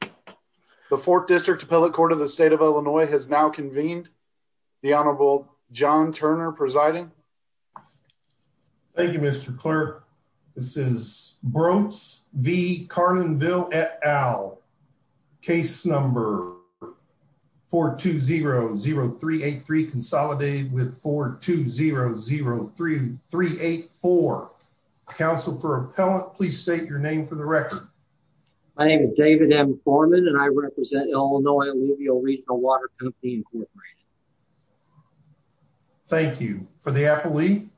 The 4th District Appellate Court of the State of Illinois has now convened. The Honorable John Turner presiding. Thank you, Mr. Clerk. This is Brotze v. Carlinville et al. Case number 4200383, consolidated with 4200384. Counsel for Appellant, please state your name for the record. My name is David M. Foreman and I represent Illinois Alluvial Regional Water Company, Inc. Thank you. For the appellee?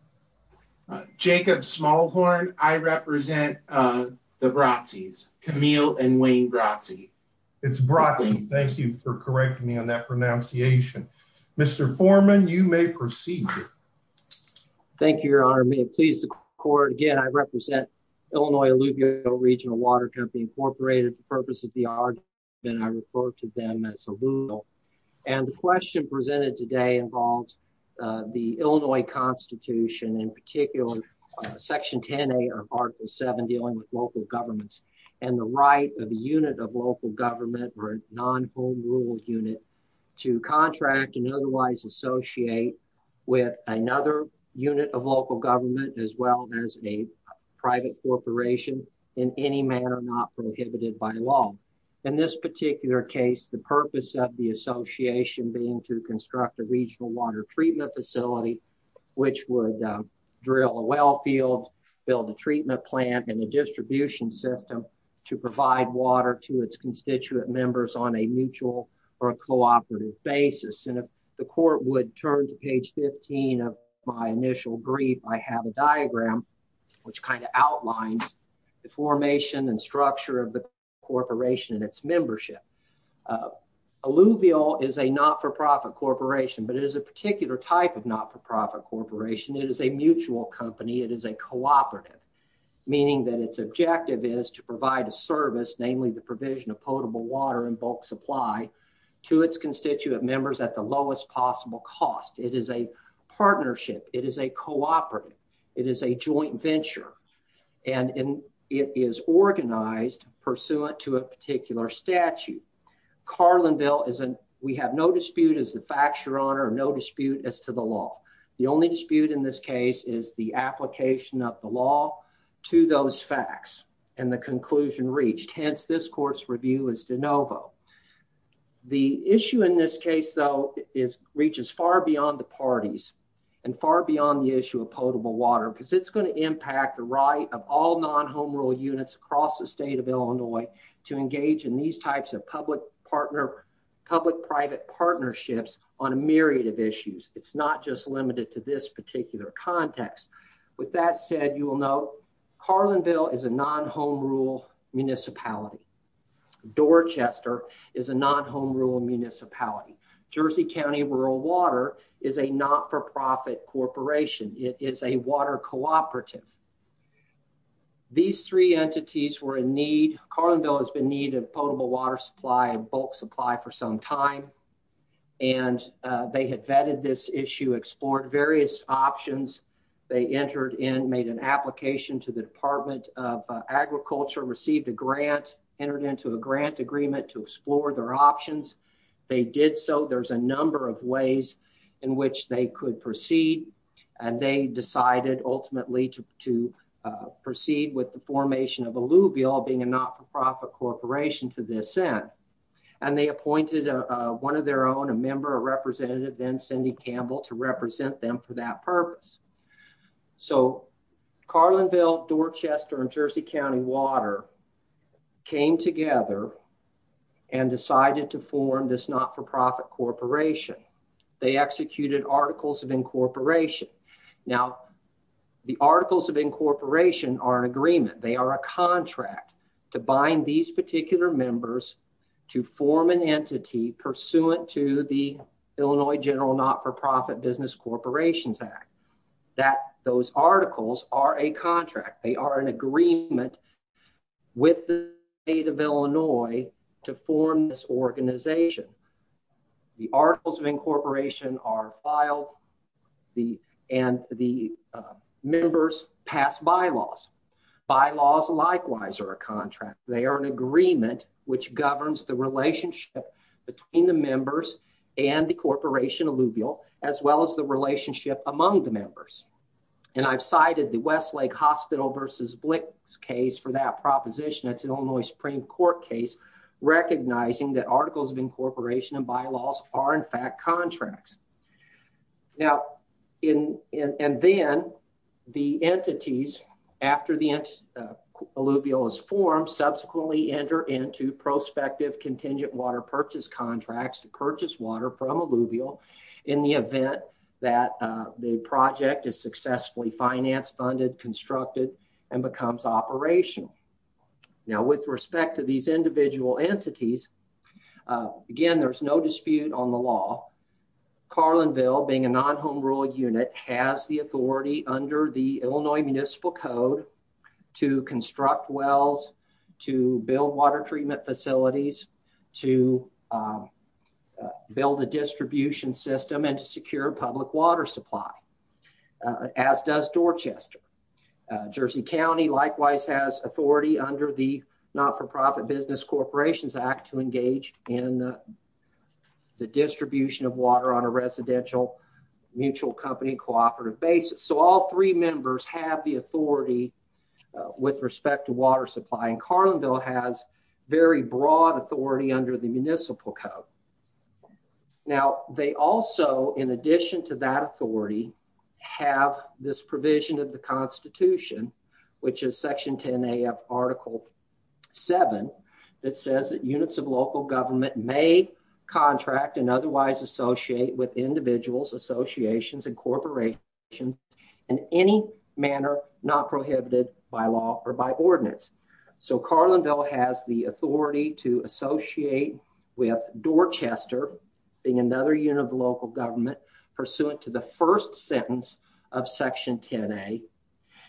Jacob Smallhorn. I represent the Brotzes, Camille and Wayne Brotze. It's Brotze. Thank you for correcting me on that pronunciation. Mr. Foreman, you may proceed. Thank you, Your Honor. May it please the Court. Again, I represent Illinois Alluvial Regional Water Company, Inc. For the purpose of the argument, I refer to them as Alluvial. And the question presented today involves the Illinois Constitution, in particular Section 10A of Article 7 dealing with local governments and the right of a unit of local government or non-home rule unit to contract and otherwise associate with another unit of local government as well as a private corporation in any manner not prohibited by law. In this particular case, the purpose of the association being to construct a regional water treatment facility which would drill a well field, build a treatment plant and a distribution system to provide water to its constituent members on a mutual or a cooperative basis. And if the Court would turn to page 15 of my initial brief, I have a diagram which kind of outlines the formation and structure of the corporation and its membership. Alluvial is a not-for-profit corporation, but it is a particular type of not-for-profit corporation. It is a mutual company. It is a cooperative, meaning that its objective is to provide a service, namely the provision of potable water in bulk supply to its constituent members at the lowest possible cost. It is a partnership. It is a cooperative. It is a joint venture. And it is organized pursuant to a particular statute. Carlinville, we have no dispute as the facture on or no dispute as to the law. The only dispute in this case is the application of the law to those facts and the conclusion reached. Hence, this Court's review is de novo. The issue in this case, though, reaches far beyond the parties and far beyond the issue of potable water because it's going to impact the right of all non-home rule units across the state of Illinois to engage in these types of public-private partnerships on a myriad of issues. It's not just limited to this particular context. With that said, you will note Carlinville is a non-home rule municipality. Dorchester is a non-home rule municipality. Jersey County Rural Water is a not-for-profit corporation. It is a water cooperative. These three entities were in need. Carlinville has been in need of potable water supply and bulk supply for some time, and they had vetted this issue, explored various options. They entered in, made an application to the Department of Agriculture, received a grant, entered into a grant agreement to explore their options. They did so. There's a number of ways in which they could proceed, and they decided ultimately to proceed with the formation of Alluvial, being a not-for-profit corporation to this end. And they appointed one of their own, a member or representative, then Cindy Campbell, to represent them for that purpose. So Carlinville, Dorchester, and Jersey County Water came together and decided to form this not-for-profit corporation. They executed Articles of Incorporation. Now, the Articles of Incorporation are an agreement. They are a contract to bind these particular members to form an entity pursuant to the Illinois General Not-for-Profit Business Corporations Act. Those articles are a contract. They are an agreement with the state of Illinois to form this organization. The Articles of Incorporation are filed, and the members pass bylaws. Bylaws, likewise, are a contract. They are an agreement which governs the relationship between the members and the corporation, Alluvial, as well as the relationship among the members. And I've cited the Westlake Hospital v. Blix case for that proposition. That's an Illinois Supreme Court case recognizing that Articles of Now, and then the entities, after Alluvial is formed, subsequently enter into prospective contingent water purchase contracts to purchase water from Alluvial in the event that the project is successfully financed, funded, constructed, and becomes operational. Now, with respect to these individual entities, again, there's no dispute on the law. Carlinville, being a non-home rule unit, has the authority under the Illinois Municipal Code to construct wells, to build water treatment facilities, to build a distribution system, and to secure public water supply, as does Dorchester. Jersey County, likewise, has authority under the Not-for-Profit Business Corporations Act to engage in the distribution of water on a residential mutual company cooperative basis. So all three members have the authority with respect to water supply, and Carlinville has very broad authority under the Municipal Code. Now, they also, in addition to that authority, have this provision of the Constitution, which is Section 10A of Article 7, that says that units of local government may contract and otherwise associate with individuals, associations, and corporations in any manner not prohibited by law or by ordinance. So Carlinville has the authority to associate with Dorchester, being another unit of local government, pursuant to the first sentence of Section 10A.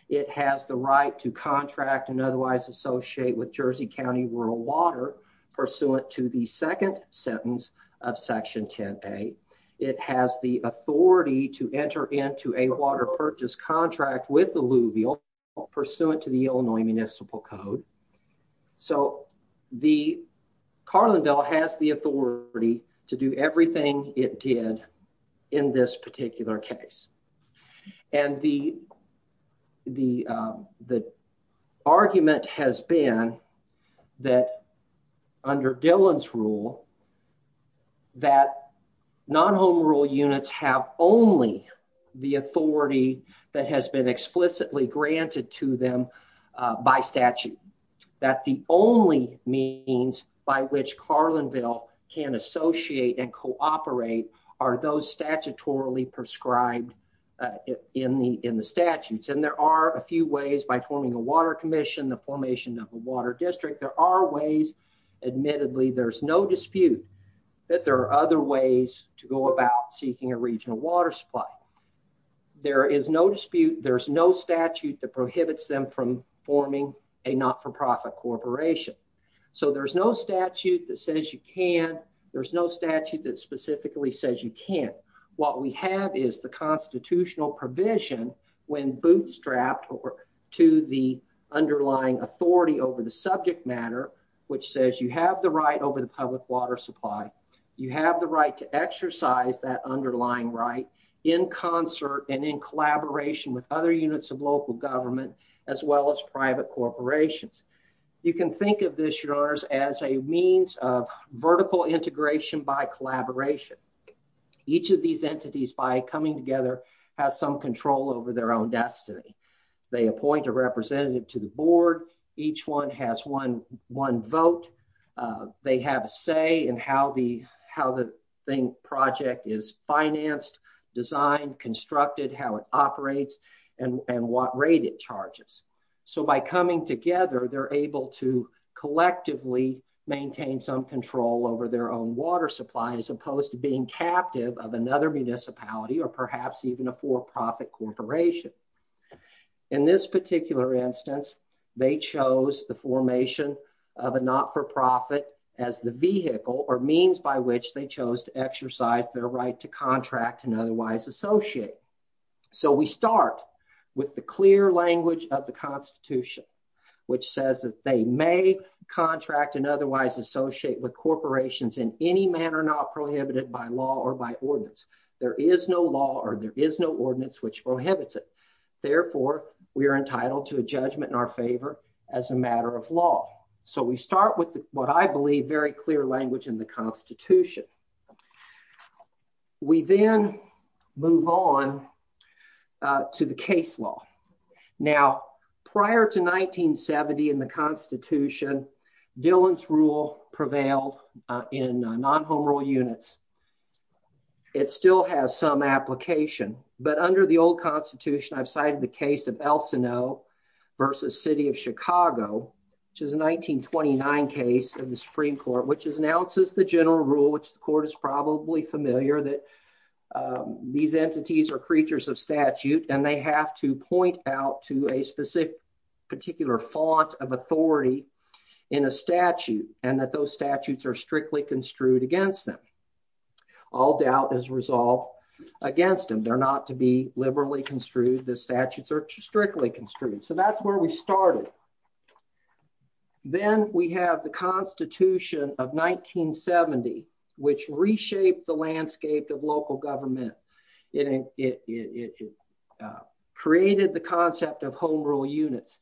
It has the right to contract and otherwise associate with Jersey County Rural Water, pursuant to the second sentence of Section 10A. It has the authority to enter into a water purchase contract with alluvial, pursuant to the Illinois Municipal Code. So Carlinville has the authority to do everything it did in this particular case. And the argument has been that under Dillon's rule, that non-home rule units have only the authority that has been explicitly granted to them by statute, that the only means by which Carlinville can associate and cooperate are those statutorily prescribed in the statutes. And there are a few ways by forming a water commission, the formation of a water district. There are ways. Admittedly, there's no dispute that there are other ways to go about seeking a regional water supply. There is no dispute. There's no statute that prohibits them from forming a not-for-profit corporation. So there's no statute that says you can. There's no statute that specifically says you can't. What we have is the constitutional provision, when bootstrapped to the underlying authority over the subject matter, which says you have the right over the public water supply, you have the right to exercise that underlying right in concert and in collaboration with other units of local government, as well as private corporations. You can think of this, Your Honors, as a means of vertical integration by collaboration. Each of these entities, by coming together, has some control over their own destiny. They appoint a representative to the board. Each one has one vote. They have a say in how the project is financed, designed, constructed, how it operates, and what rate it charges. So by coming together, they're able to collectively maintain some control over their own water supply, as opposed to being captive of another municipality or perhaps even a for-profit corporation. In this particular instance, they chose the formation of a not-for-profit as the vehicle or means by which they chose to exercise their right to contract and otherwise associate. So we start with the clear language of the Constitution, which says that they may contract and otherwise associate with corporations in any manner not prohibited by law or by ordinance. There is no law or there is no ordinance which prohibits it. Therefore, we are entitled to a judgment in our favor as a matter of law. So we start with what I believe very clear language in the Constitution. We then move on to the case law. Now, prior to 1970 in the Constitution, Dillon's Rule prevailed in non-home rule units. It still has some application, but under the old Constitution, I've cited the case of El Sino versus City of Chicago, which is a 1929 case in the Supreme Court, which announces the general rule, which the court is probably familiar, that these entities are creatures of statute and they have to point out to a specific particular font of authority in a statute and that those statutes are strictly construed against them. All doubt is resolved against them. They're not to be liberally construed. The statutes are strictly construed. So that's where we started. Then we have the Constitution of 1970, which reshaped the landscape of local government. It created the concept of home rule units.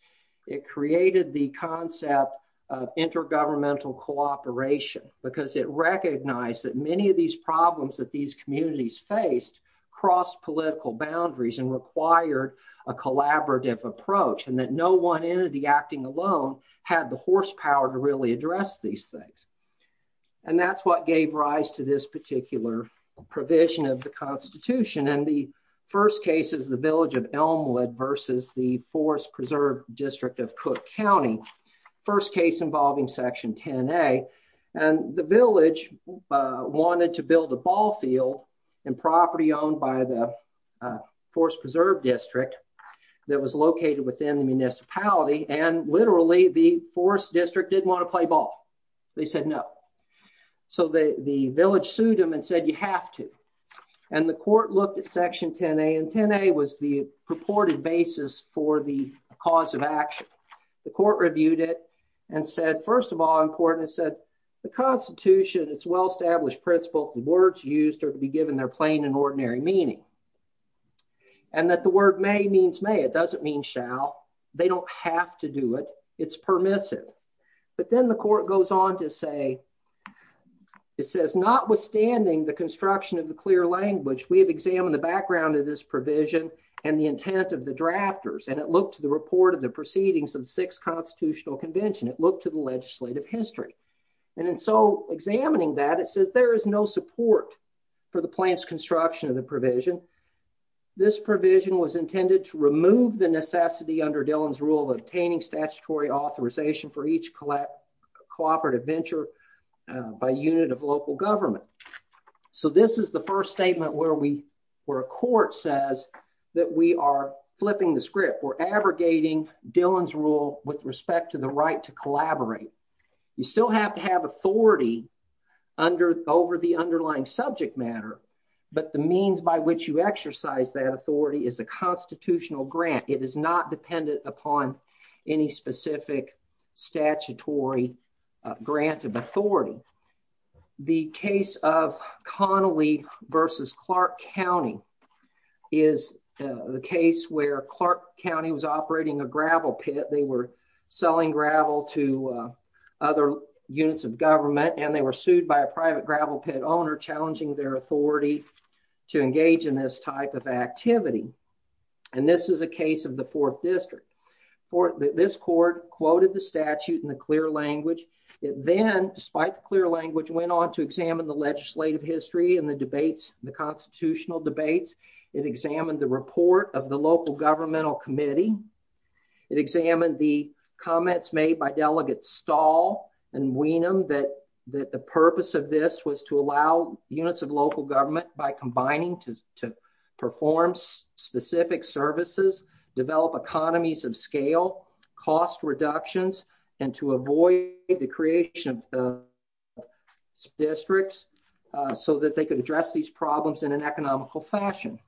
It created the concept of intergovernmental cooperation because it recognized that many of these problems that these communities faced crossed political boundaries and required a collaborative approach and that no one entity acting alone had the horsepower to really address these things. And that's what gave rise to this particular provision of the Constitution. And the first case is the village of Elmwood versus the Forest Preserve District of Cook County, first case involving Section 10A. And the village wanted to build a ball field and property owned by the Forest Preserve District that was located within the municipality, and literally the Forest District didn't want to play ball. They said no. So the village sued them and said, you have to. And the court looked at Section 10A, and 10A was the purported basis for the cause of action. The court reviewed it and said, first of all in court, it said the Constitution, its well-established principle, the words used are to be given their plain and ordinary meaning. And that the word may means may. It doesn't mean shall. They don't have to do it. It's permissive. But then the court goes on to say, it says notwithstanding the construction of the clear language, we have examined the background of this provision and the intent of the drafters. And it looked to the report of the proceedings of the Sixth Constitutional Convention. It looked to the legislative history. And in so examining that, it says there is no support for the plan's construction of the provision. This provision was intended to remove the necessity under Dillon's rule of obtaining statutory authorization for each cooperative venture by unit of local government. So this is the first statement where a court says that we are flipping the script. We're abrogating Dillon's rule with respect to the right to collaborate. You still have to have authority over the underlying subject matter. But the means by which you exercise that authority is a constitutional grant. It is not dependent upon any specific statutory grant of authority. The case of Connolly versus Clark County is the case where Clark County was operating a gravel pit. They were selling gravel to other units of government, and they were sued by a private gravel pit owner challenging their authority to engage in this type of activity. And this is a case of the Fourth District. This court quoted the statute in the clear language. It then, despite the clear language, went on to examine the legislative history and the debates, the constitutional debates. It examined the report of the local governmental committee. It examined the comments made by Delegates Stahl and Weenum that the purpose of this was to allow units of local government by combining to perform specific services, develop economies of scale, cost reductions, and to avoid the creation of districts so that they could address these problems in an economical fashion.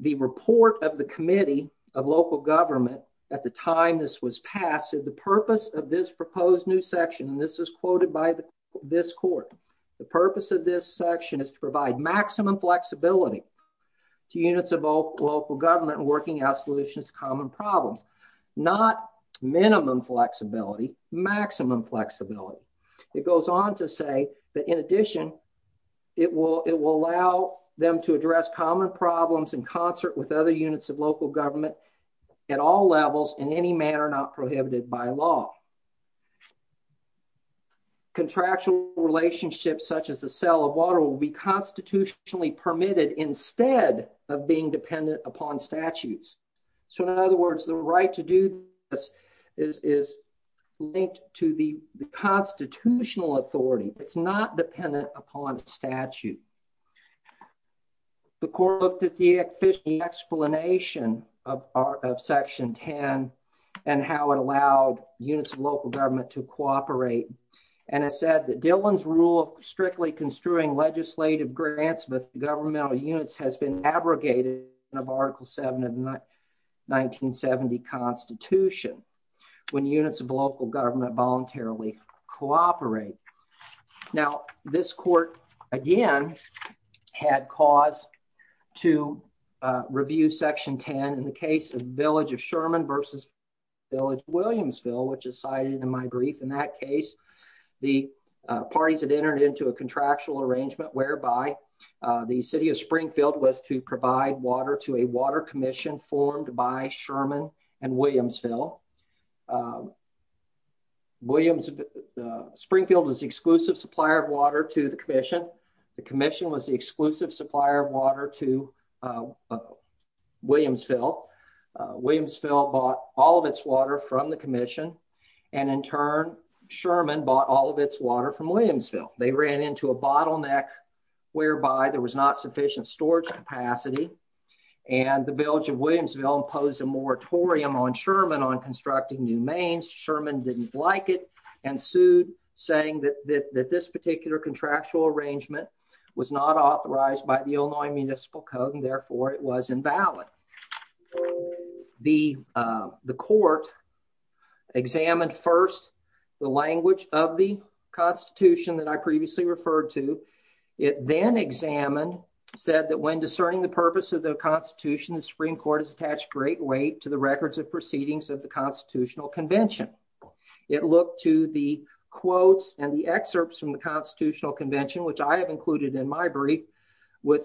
The report of the committee of local government at the time this was passed said the purpose of this proposed new section, and this is quoted by this court, the purpose of this section is to provide maximum flexibility to units of local government working out solutions to common problems. Not minimum flexibility, maximum flexibility. It goes on to say that, in addition, it will allow them to address common problems in concert with other units of local government at all levels in any manner not prohibited by law. Contractual relationships such as the sale of water will be constitutionally permitted instead of being dependent upon statutes. So, in other words, the right to do this is linked to the constitutional authority. It's not dependent upon statute. The court looked at the explanation of Section 10 and how it allowed units of local government to cooperate and it said that Dillon's rule of strictly construing legislative grants with governmental units has been abrogated in Article 7 of the 1970 Constitution when units of local government voluntarily cooperate. Now, this court, again, had cause to review Section 10 in the case of the village of Sherman versus village of Williamsville, which is cited in my brief. In that case, the parties had entered into a contractual arrangement whereby the city of Springfield was to provide water to a water commission formed by Sherman and Williamsville. Williamsville, Springfield was the exclusive supplier of water to the commission. The commission was the exclusive supplier of water to Williamsville. Williamsville bought all of its water from the commission and in turn, Sherman bought all of its water from Williamsville. They ran into a bottleneck whereby there was not sufficient storage capacity and the village of Williamsville imposed a moratorium on Sherman on constructing new mains. Sherman didn't like it and sued saying that this particular contractual arrangement was not authorized by the Illinois Municipal Code and therefore it was invalid. The court examined first the language of the Constitution that I previously referred to. It then examined, said that when discerning the purpose of the Constitution, the Supreme Court has attached great weight to the records of proceedings of the Constitutional Convention. It looked to the quotes and the excerpts from the Constitutional Convention, which I have included in my brief,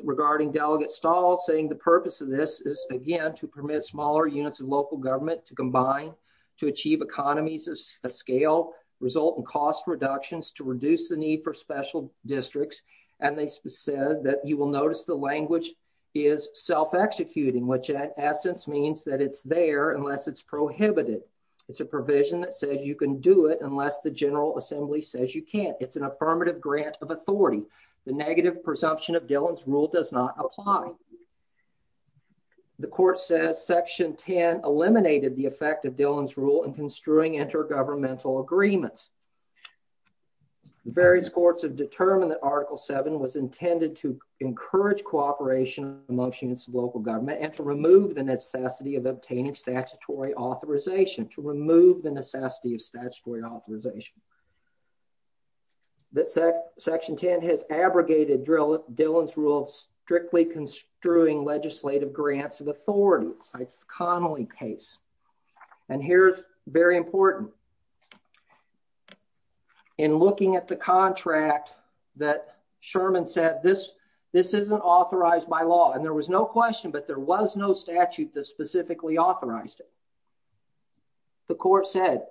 regarding Delegate Stahl saying the purpose of this is, again, to permit smaller units of local government to combine, to achieve economies of scale, result in cost reductions, to reduce the need for special districts, and they said that you will notice the language is self-executing, which in essence means that it's there unless it's prohibited. It's a provision that says you can do it unless the General Assembly says you can't. It's an affirmative grant of authority. The negative presumption of Dillon's Rule does not apply. The court says Section 10 eliminated the effect of Dillon's Rule in construing intergovernmental agreements. Various courts have determined that Article 7 was intended to encourage cooperation amongst units of local government and to remove the necessity of obtaining statutory authorization, to remove the necessity of statutory authorization. That Section 10 has abrogated Dillon's Rule strictly construing legislative grants of authority, cites the Connolly case. And here's very important. In looking at the contract that Sherman said, this isn't authorized by law, and there was no question, but there was no statute that specifically authorized it. The court said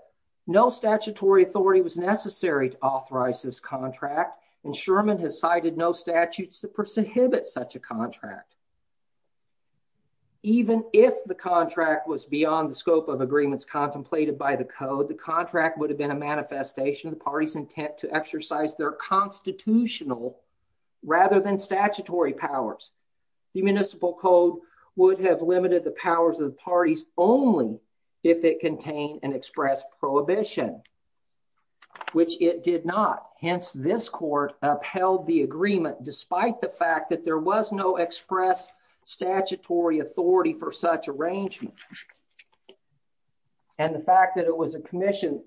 no statutory authority was necessary to authorize this contract, and Sherman has cited no statutes that prohibit such a contract. Even if the contract was beyond the scope of agreements contemplated by the Code, the contract would have been a manifestation of the party's intent to exercise their constitutional rather than statutory powers. The Municipal Code would have limited the powers of the parties only if it contained an express prohibition, which it did not. Hence, this court upheld the agreement despite the fact that there was no express statutory authority for such arrangement. And the fact that it was a commission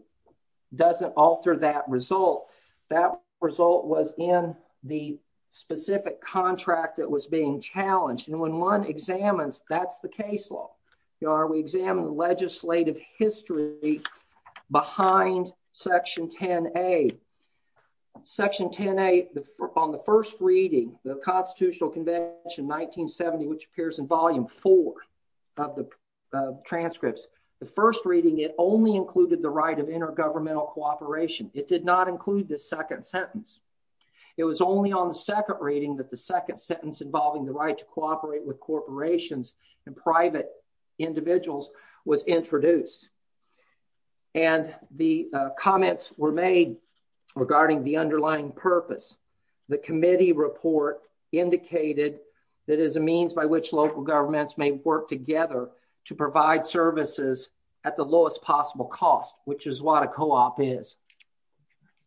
doesn't alter that result. That result was in the specific contract that was being challenged, and when one examines, that's the case law. We examine the legislative history behind Section 10A. Section 10A, on the first reading, the Constitutional Convention 1970, which appears in Volume 4 of the transcripts, the first reading, it only included the right of intergovernmental cooperation. It did not include the second sentence. It was only on the second reading that the second sentence involving the right to cooperate with corporations and private individuals was introduced. And the comments were made regarding the underlying purpose. The committee report indicated that as a means by which local governments may work together to provide services at the lowest possible cost, which is what a co-op is.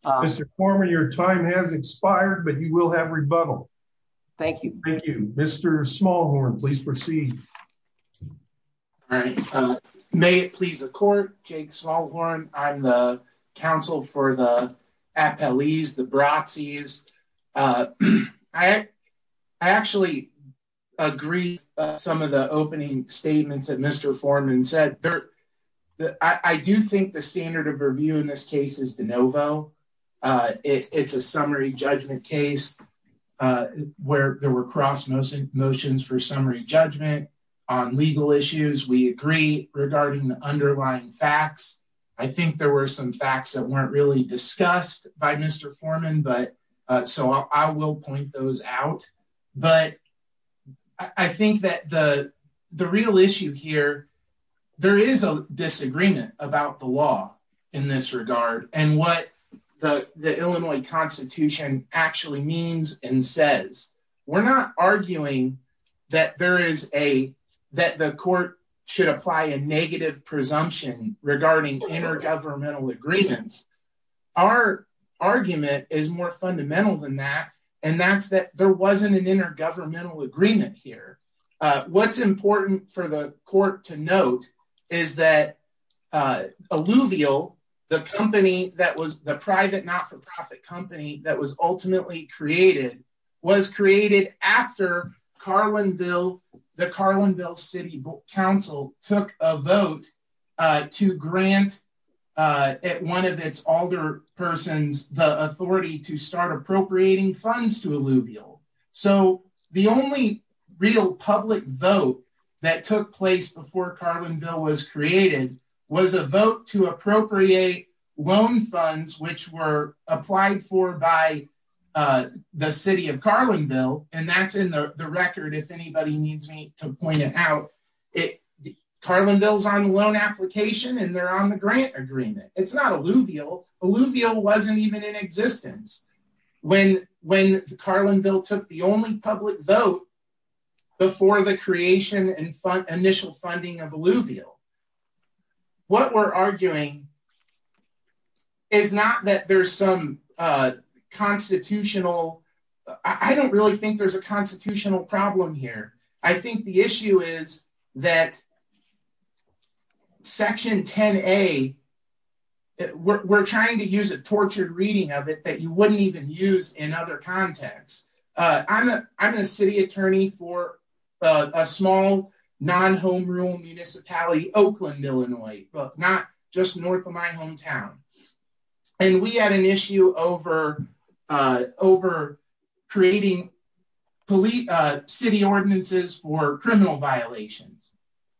Mr. Foreman, your time has expired, but you will have rebuttal. Thank you. Thank you. Mr. Smallhorn, please proceed. All right. May it please the Court, Jake Smallhorn, I'm the counsel for the appellees, the broxies. I actually agree with some of the opening statements that Mr. Foreman said. I do think the standard of review in this case is de novo. It's a summary judgment case where there were cross motions for summary judgment on legal issues. We agree regarding the underlying facts. I think there were some facts that weren't really discussed by Mr. Foreman, so I will point those out. But I think that the real issue here, there is a disagreement about the law in this regard and what the Illinois Constitution actually means and says. We're not arguing that there is a, that the court should apply a negative presumption regarding intergovernmental agreements. Our argument is more fundamental than that, and that's that there wasn't an intergovernmental agreement here. What's important for the court to note is that Alluvial, the company that was, the private not-for-profit company that was ultimately created, was created after Carlinville, the Carlinville City Council took a vote to grant one of its alder persons the authority to start appropriating funds to Alluvial. So the only real public vote that took place before Carlinville was created was a vote to appropriate loan funds which were applied for by the city of Carlinville, and that's in the record, if anybody needs me to point it out. Carlinville's on loan application and they're on the grant agreement. It's not Alluvial. Alluvial wasn't even in existence when Carlinville took the only public vote before the creation and initial funding of Alluvial. What we're arguing is not that there's some constitutional, I don't really think there's a constitutional problem here. I think the issue is that Section 10A, we're trying to use a tortured reading of it that you wouldn't even use in other contexts. I'm a city attorney for a small non-home rule municipality, Oakland, Illinois, not just north of my hometown, and we had an issue over creating city ordinances for criminal violations,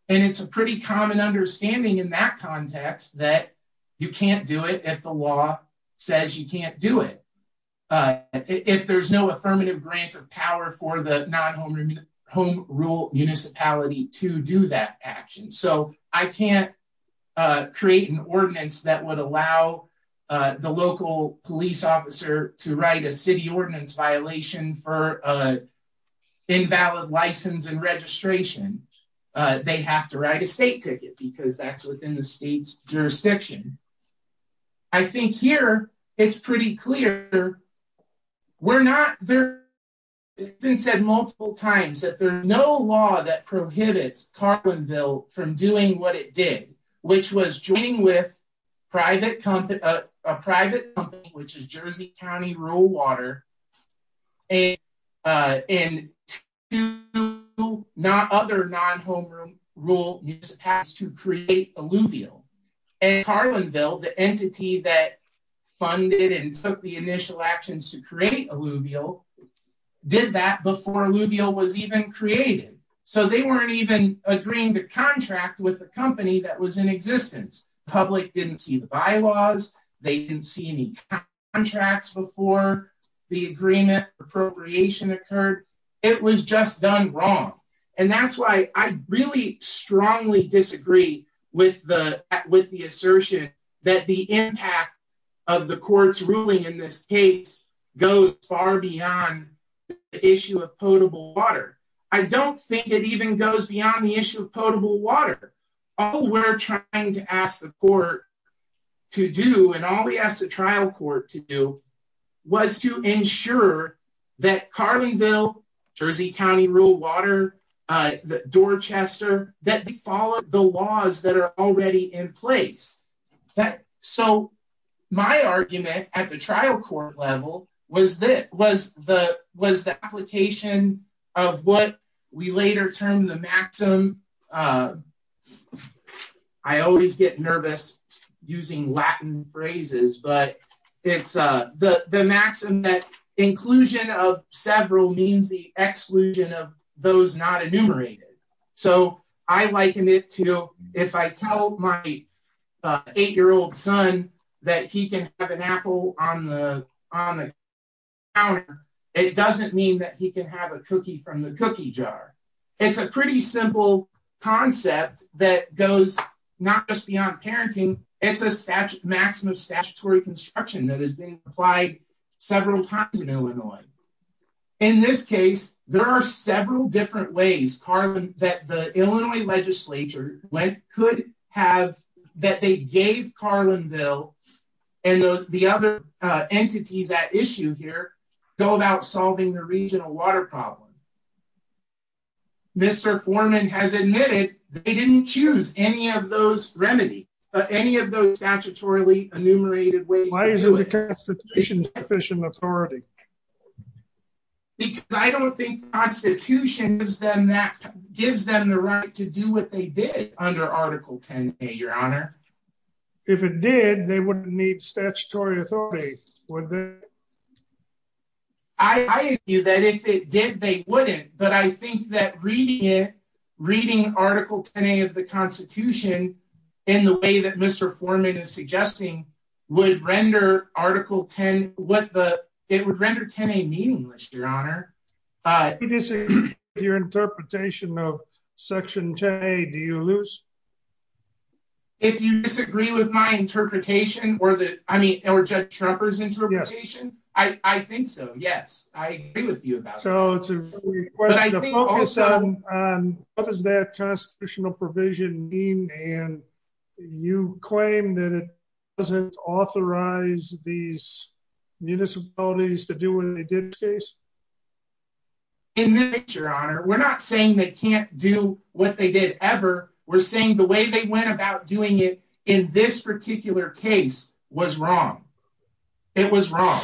and it's a pretty common understanding in that context that you can't do it if the law says you can't do it, if there's no affirmative grant of power for the non-home rule municipality to do that action. I can't create an ordinance that would allow the local police officer to write a city ordinance violation for invalid license and registration. They have to write a state ticket because that's within the state's jurisdiction. I think here it's pretty clear we're not there. It's been said multiple times that there's no law that prohibits Carlinville from doing what it did, which was joining with a private company, which is Jersey County Rural Water, and two other non-home rule municipalities to create alluvial. Carlinville, the entity that funded and took the initial actions to create alluvial, did that before alluvial was even created, so they weren't even agreeing the contract with the company that was in existence. The public didn't see the bylaws. They didn't see any contracts before the agreement appropriation occurred. It was just done wrong, and that's why I really strongly disagree with the assertion that the impact of the court's ruling in this case goes far beyond the issue of potable water. I don't think it even goes beyond the issue of potable water. All we're trying to ask the court to do and all we asked the trial court to do was to ensure that Carlinville, Jersey County Rural Water, Dorchester, that we follow the laws that are already in place. So my argument at the trial court level was the application of what we later termed the maxim... I always get nervous using Latin phrases, but it's the maxim that inclusion of several means the exclusion of those not enumerated. So I liken it to if I tell my 8-year-old son that he can have an apple on the counter, it doesn't mean that he can have a cookie from the cookie jar. It's a pretty simple concept that goes not just beyond parenting. It's a maximum statutory construction that is being applied several times in Illinois. In this case, there are several different ways that the Illinois legislature could have... that they gave Carlinville and the other entities at issue here go about solving the regional water problem. Mr. Foreman has admitted they didn't choose any of those remedies, any of those statutorily enumerated ways. Why isn't the Constitution sufficient authority? Because I don't think the Constitution gives them the right to do what they did under Article 10A, Your Honor. If it did, they wouldn't need statutory authority, would they? I agree that if it did, they wouldn't, but I think that reading it, reading Article 10A of the Constitution in the way that Mr. Foreman is suggesting would render Article 10... it would render 10A meaningless, Your Honor. If you disagree with your interpretation of Section 10A, do you lose? If you disagree with my interpretation or Judge Schroepfer's interpretation, I think so, yes. I agree with you about that. But I think also... What does that constitutional provision mean? And you claim that it doesn't authorize these municipalities to do what they did in this case? In this case, Your Honor, we're not saying they can't do what they did ever. We're saying the way they went about doing it in this particular case was wrong. It was wrong.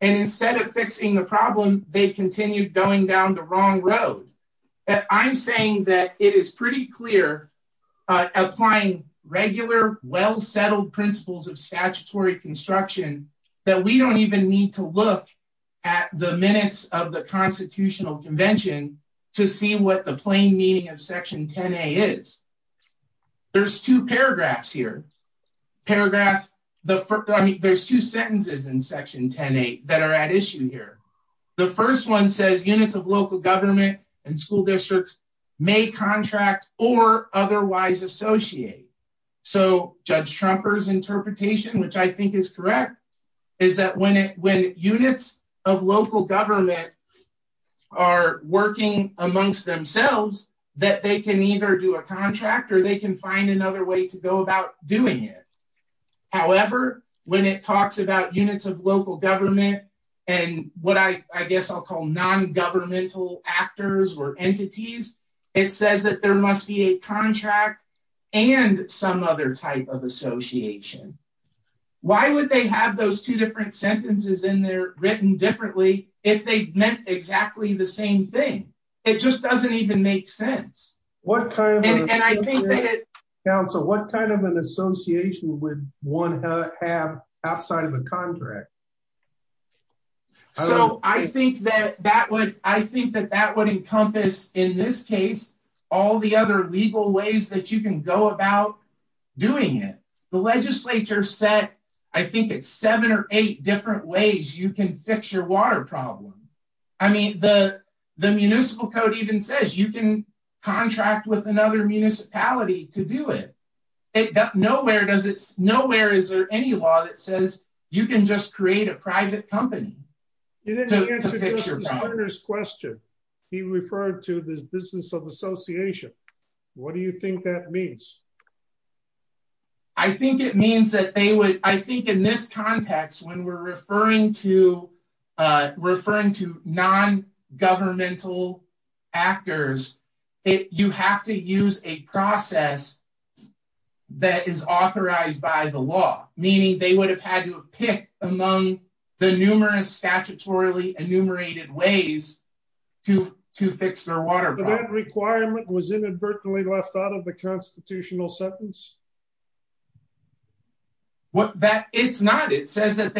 And instead of fixing the problem, they continued going down the wrong road. I'm saying that it is pretty clear applying regular, well-settled principles of statutory construction that we don't even need to look at the minutes of the Constitutional Convention to see what the plain meaning of Section 10A is. There's two paragraphs here. Paragraph... I mean, there's two sentences in Section 10A that are at issue here. The first one says units of local government and school districts may contract or otherwise associate. So Judge Trumper's interpretation, which I think is correct, is that when units of local government are working amongst themselves, that they can either do a contract or they can find another way to go about doing it. However, when it talks about units of local government and what I guess I'll call non-governmental actors or entities, it says that there must be a contract and some other type of association. Why would they have those two different sentences in there written differently if they meant exactly the same thing? It just doesn't even make sense. And I think that it... Counsel, what kind of an association would one have outside of a contract? So I think that that would encompass, in this case, all the other legal ways that you can go about doing it. The legislature said, I think, it's seven or eight different ways you can fix your water problem. I mean, the municipal code even says you can contract with another municipality to do it. Nowhere is there any law that says you can just create a private company to fix your problem. You didn't answer Justice Turner's question. He referred to this business of association. What do you think that means? I think it means that they would, I think in this context, when we're referring to, referring to non-governmental actors, you have to use a process that is authorized by the law, meaning they would have had to pick among the numerous statutorily enumerated ways to fix their water problem. But that requirement was inadvertently left out of the constitutional sentence? It's not. It says that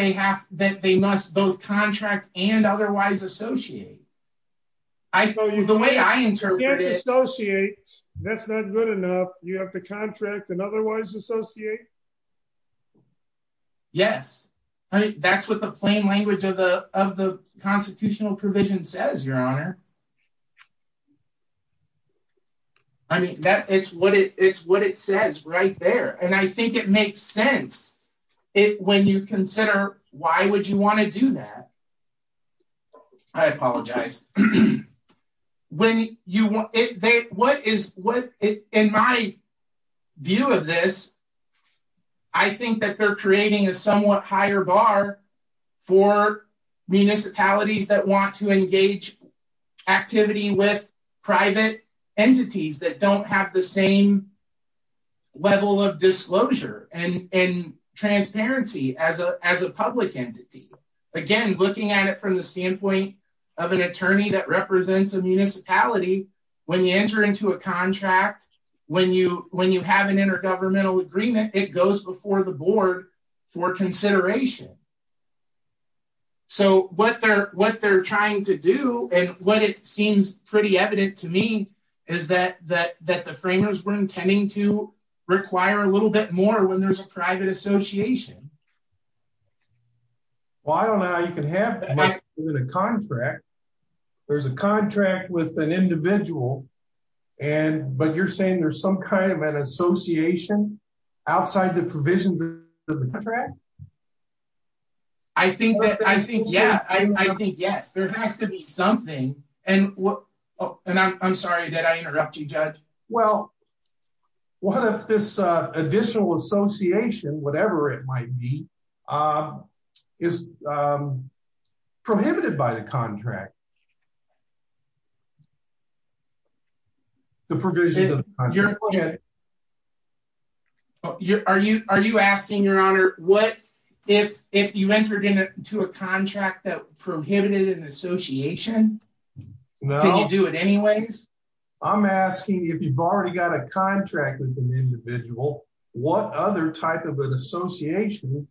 they must both contract and otherwise associate. The way I interpret it... You can't associate. That's not good enough. You have to contract and otherwise associate? Yes. That's what the plain language of the constitutional provision says, Your Honor. I mean, it's what it says right there. And I think it makes sense when you consider why would you want to do that. I apologize. In my view of this, I think that they're creating a somewhat higher bar for municipalities that want to engage activity with private entities that don't have the same level of disclosure and transparency as a public entity. Again, looking at it from the standpoint of an attorney that represents a municipality, when you enter into a contract, when you have an intergovernmental agreement, it goes before the board for consideration. So what they're trying to do, and what it seems pretty evident to me, is that the framers were intending to require a little bit more when there's a private association. Well, I don't know how you can have that in a contract. There's a contract with an individual, but you're saying there's some kind of an association outside the provisions of the contract? I think yes. There has to be something. And I'm sorry, did I interrupt you, Judge? Well, what if this additional association, whatever it might be, is prohibited by the contract? The provisions of the contract. Are you asking, Your Honor, what if you entered into a contract that prohibited an association? No. Can you do it anyways? I'm asking if you've already got a contract with an individual, what other type of an association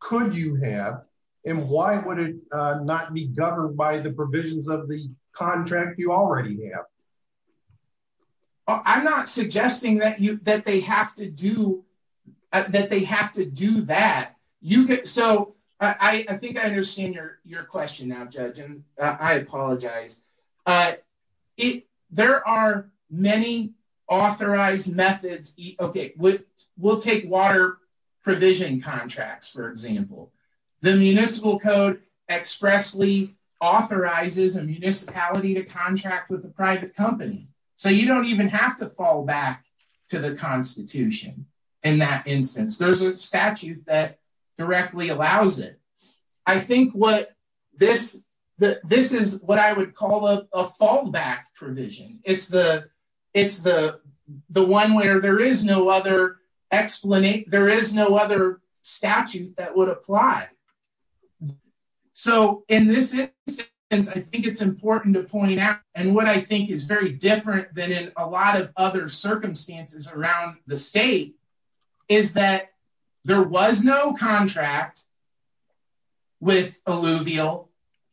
could you have, and why would it not be governed by the provisions of the contract you already have? I'm not suggesting that they have to do that. So I think I understand your question now, Judge, and I apologize. There are many authorized methods. Okay, we'll take water provision contracts, for example. The municipal code expressly authorizes a municipality to contract with a private company, so you don't even have to fall back to the Constitution in that instance. There's a statute that directly allows it. I think this is what I would call a fallback provision. It's the one where there is no other statute that would apply. So in this instance, I think it's important to point out, and what I think is very different than in a lot of other circumstances around the state, is that there was no contract with Alluvial,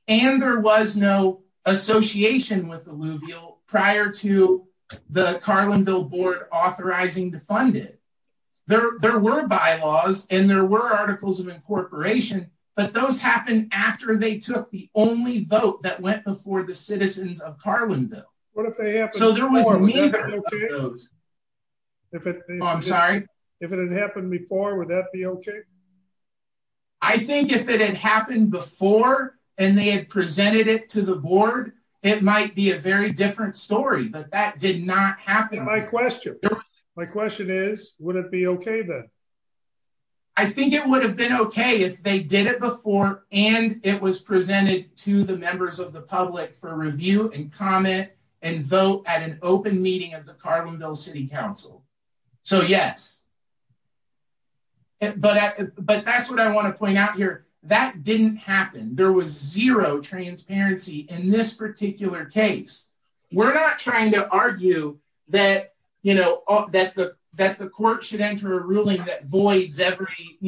and there was no association with Alluvial prior to the Carlinville board authorizing the funding. There were bylaws, and there were articles of incorporation, but those happened after they took the only vote that went before the citizens of Carlinville. So there was neither of those. I'm sorry? If it had happened before, would that be okay? I think if it had happened before, and they had presented it to the board, it might be a very different story, but that did not happen. My question is, would it be okay then? I think it would have been okay if they did it before, and it was presented to the members of the public for review and comment and vote at an open meeting of the Carlinville City Council. So yes. But that's what I want to point out here. That didn't happen. There was zero transparency in this particular case. We're not trying to argue that the court should enter a ruling that voids every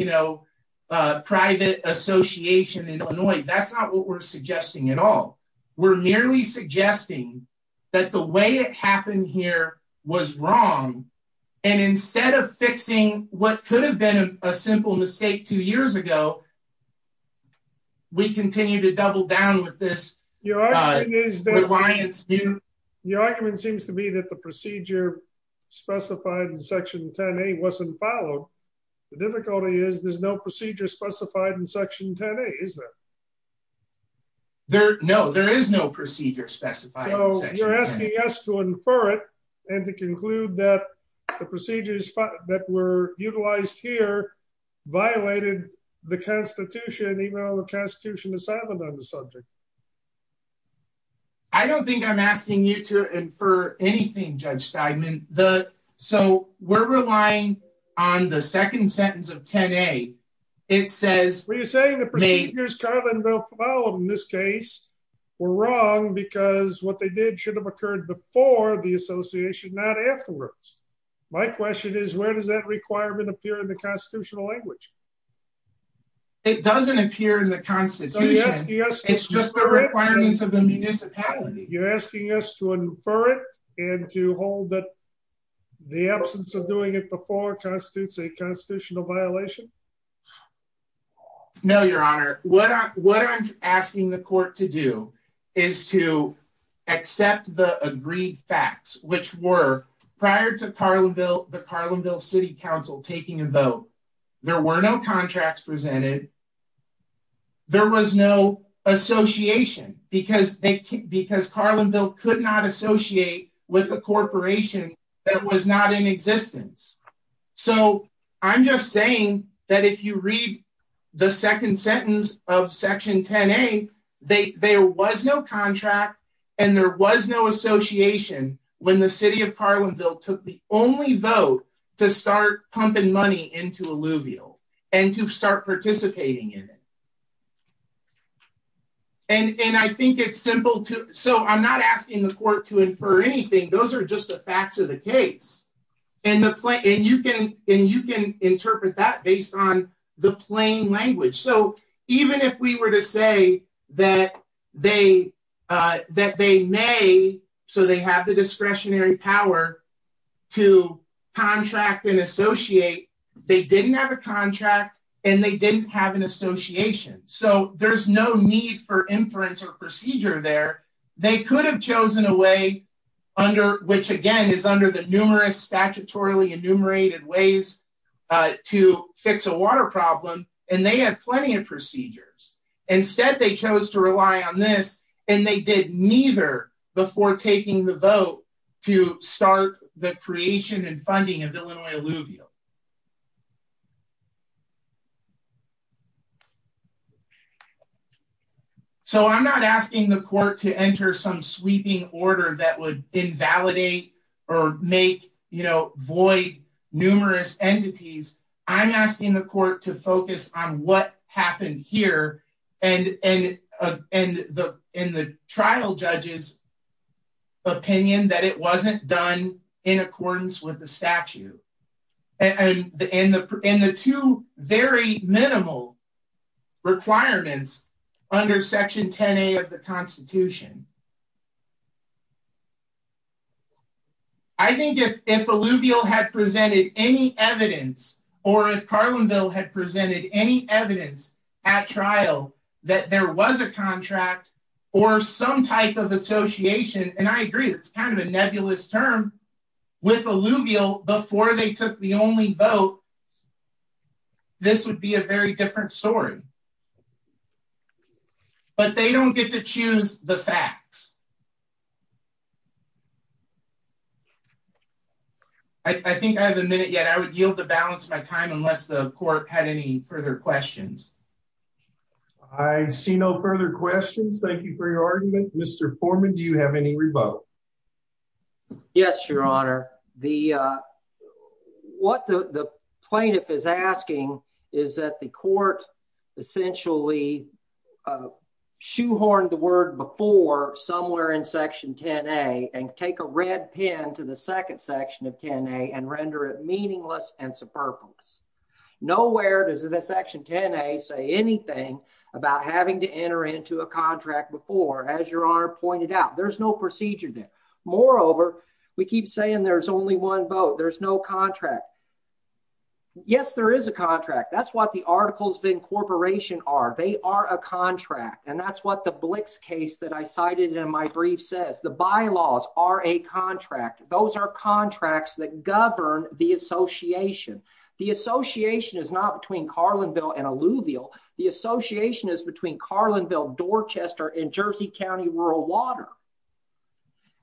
private association in Illinois. That's not what we're suggesting at all. We're merely suggesting that the way it happened here was wrong. And instead of fixing what could have been a simple mistake two years ago, we continue to double down with this. Your argument seems to be that the procedure specified in section 10A wasn't followed. The difficulty is there's no procedure specified in section 10A, is there? No, there is no procedure specified in section 10A. So you're asking us to infer it and to conclude that the procedures that were utilized here violated the Constitution, even though the Constitution assignment on the subject. I don't think I'm asking you to infer anything, Judge Steinman. So we're relying on the second sentence of 10A. Were you saying the procedures Carlin will follow in this case were wrong because what they did should have occurred before the association, not afterwards? My question is where does that requirement appear in the constitutional language? It doesn't appear in the Constitution. It's just the requirements of the municipality. You're asking us to infer it and to hold that the absence of doing it before constitutes a constitutional violation? No, Your Honor. What I'm asking the court to do is to accept the agreed facts, which were prior to the Carlinville City Council taking a vote, there were no contracts presented. There was no association because Carlinville could not associate with a So I'm just saying that if you read the second sentence of Section 10A, there was no contract and there was no association when the city of Carlinville took the only vote to start pumping money into alluvial and to start participating in it. And I think it's simple. So I'm not asking the court to infer anything. Those are just the facts of the case. And you can interpret that based on the plain language. So even if we were to say that they may, so they have the discretionary power to contract and associate, they didn't have a contract and they didn't have an association. So there's no need for inference or procedure there. They could have chosen a way under, which again, is under the numerous statutorily enumerated ways to fix a water problem. And they have plenty of procedures. Instead they chose to rely on this and they did neither before taking the vote to start the creation and funding of Illinois Alluvial. So I'm not asking the court to enter some sweeping order that would invalidate or make, you know, void numerous entities. I'm asking the court to focus on what happened here. And, and, and the, in the trial judges opinion that it wasn't done in accordance with the statute. And the, in the, in the two very minimal requirements under section 10, eight of the constitution. I think if, if Alluvial had presented any evidence or if Carlinville had presented any evidence at trial, that there was a contract or some type of association. And I agree. It's kind of a nebulous term with Alluvial before they took the only vote. This would be a very different story, but they don't get to choose the facts. I think I have a minute yet. I would yield the balance of my time unless the court had any further questions. I see no further questions. Thank you for your argument. Mr. Foreman, do you have any rebuttal? Yes, your honor. The, what the plaintiff is asking is that the court essentially shoehorned the word before somewhere in section 10, a and take a red pin to the second section of 10 a and render it meaningless and superfluous. Nowhere does it, that section 10 a say anything about having to enter into a contract before as your honor pointed out, there's no procedure there. Moreover, we keep saying there's only one vote. There's no contract. Yes, there is a contract. That's what the articles of incorporation are. They are a contract. And that's what the Blix case that I cited in my brief says the bylaws are a contract. Those are contracts that govern the association. The association is not between Carlinville and Alluvial. The association is between Carlinville Dorchester in Jersey County, rural water.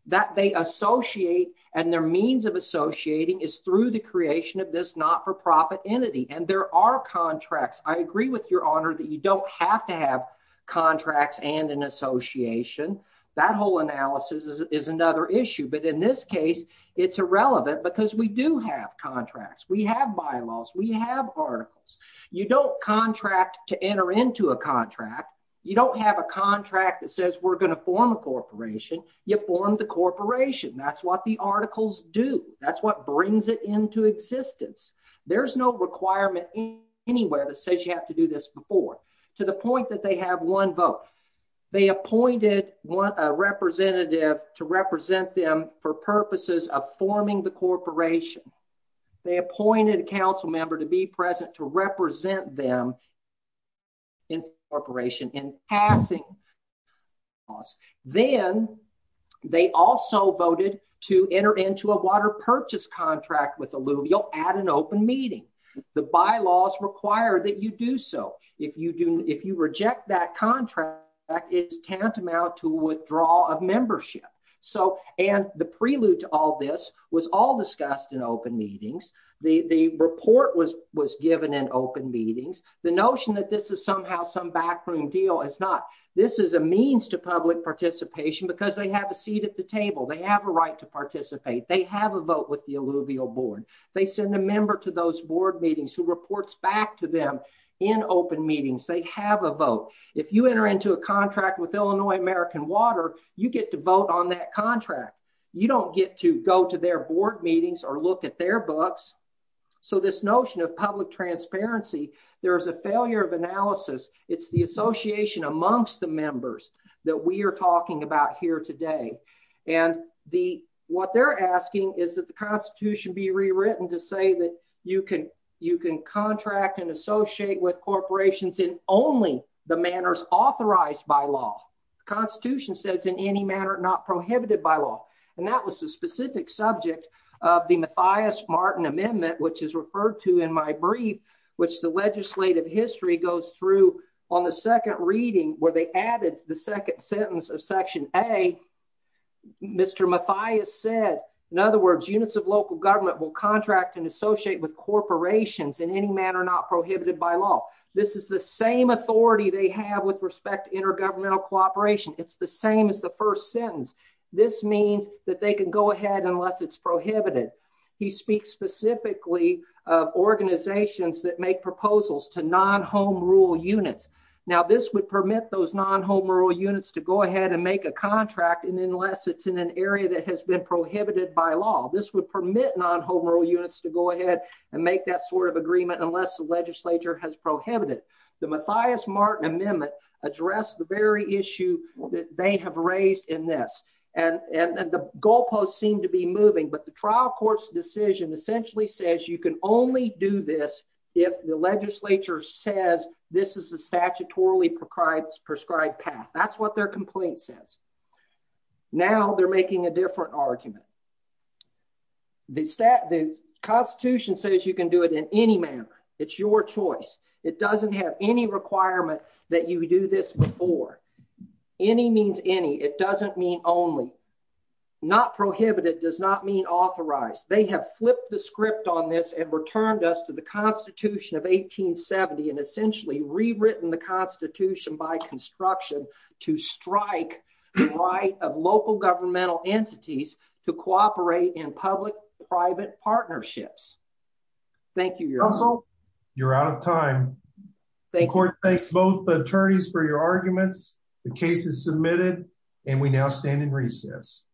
That they associate and their means of associating is through the creation of this not-for-profit entity. And there are contracts. I agree with your honor that you don't have to have contracts and an association. That whole analysis is another issue, but in this case, it's irrelevant because we do have contracts. We have bylaws, we have articles. You don't contract to enter into a contract. You don't have a contract that says we're going to form a corporation. You form the corporation. That's what the articles do. That's what brings it into existence. There's no requirement anywhere that says you have to do this before to the point that they have one vote. They appointed one representative to represent them for purposes of forming the corporation. They appointed a council member to be present, to represent them in corporation in passing. Then they also voted to enter into a water purchase contract with Alluvial at an open meeting. The bylaws require that you do so. If you do, if you reject that contract, it's tantamount to withdrawal of membership. The prelude to all this was all discussed in open meetings. The report was given in open meetings. The notion that this is somehow some backroom deal is not. This is a means to public participation because they have a seat at the table. They have a right to participate. They have a vote with the Alluvial board. They send a member to those board meetings who reports back to them in open meetings. They have a vote. If you enter into a contract with Illinois American Water, you get to vote on that contract. You don't get to go to their board meetings or look at their books. So this notion of public transparency, there is a failure of analysis. It's the association amongst the members that we are talking about here today. And the, what they're asking is that the constitution be rewritten to say that you can, you can contract and associate with corporations in only the manners authorized by law. Constitution says in any manner, not prohibited by law. And that was the specific subject of the Mathias Martin amendment, which is referred to in my brief, which the legislative history goes through on the second reading where they added the second sentence of section a Mr. Mathias said, in other words, units of local government will contract and associate with corporations in any manner, not prohibited by law. This is the same authority they have with respect to intergovernmental cooperation. It's the same as the first sentence. This means that they can go ahead unless it's prohibited. He speaks specifically of organizations that make proposals to non-home rule units. Now this would permit those non-home rule units to go ahead and make a contract. And unless it's in an area that has been prohibited by law, this would permit non-home rule units to go ahead and make that sort of contract. units of local government will contract and associate with corporations in any units of local government will contract and associate with corporations in any manner, not prohibited by law. The Mathias Martin amendment address the very issue that they have raised in this. And, and the goalposts seem to be moving, but the trial courts decision essentially says you can only do this. If the legislature says this is a statutorily prescribed prescribed path, that's what their complaint says. Now they're making a different argument. The stat, the constitution says you can do it in any manner. It's your choice. It doesn't have any requirement that you do this before. Any means any, it doesn't mean only not prohibited does not mean authorized. They have flipped the script on this and returned us to the constitution of 1870 and essentially rewritten the constitution by construction to strike the right of local governmental entities to cooperate in public private partnerships. Thank you. You're out of time. Thanks both attorneys for your arguments. The case is submitted and we now stand in recess.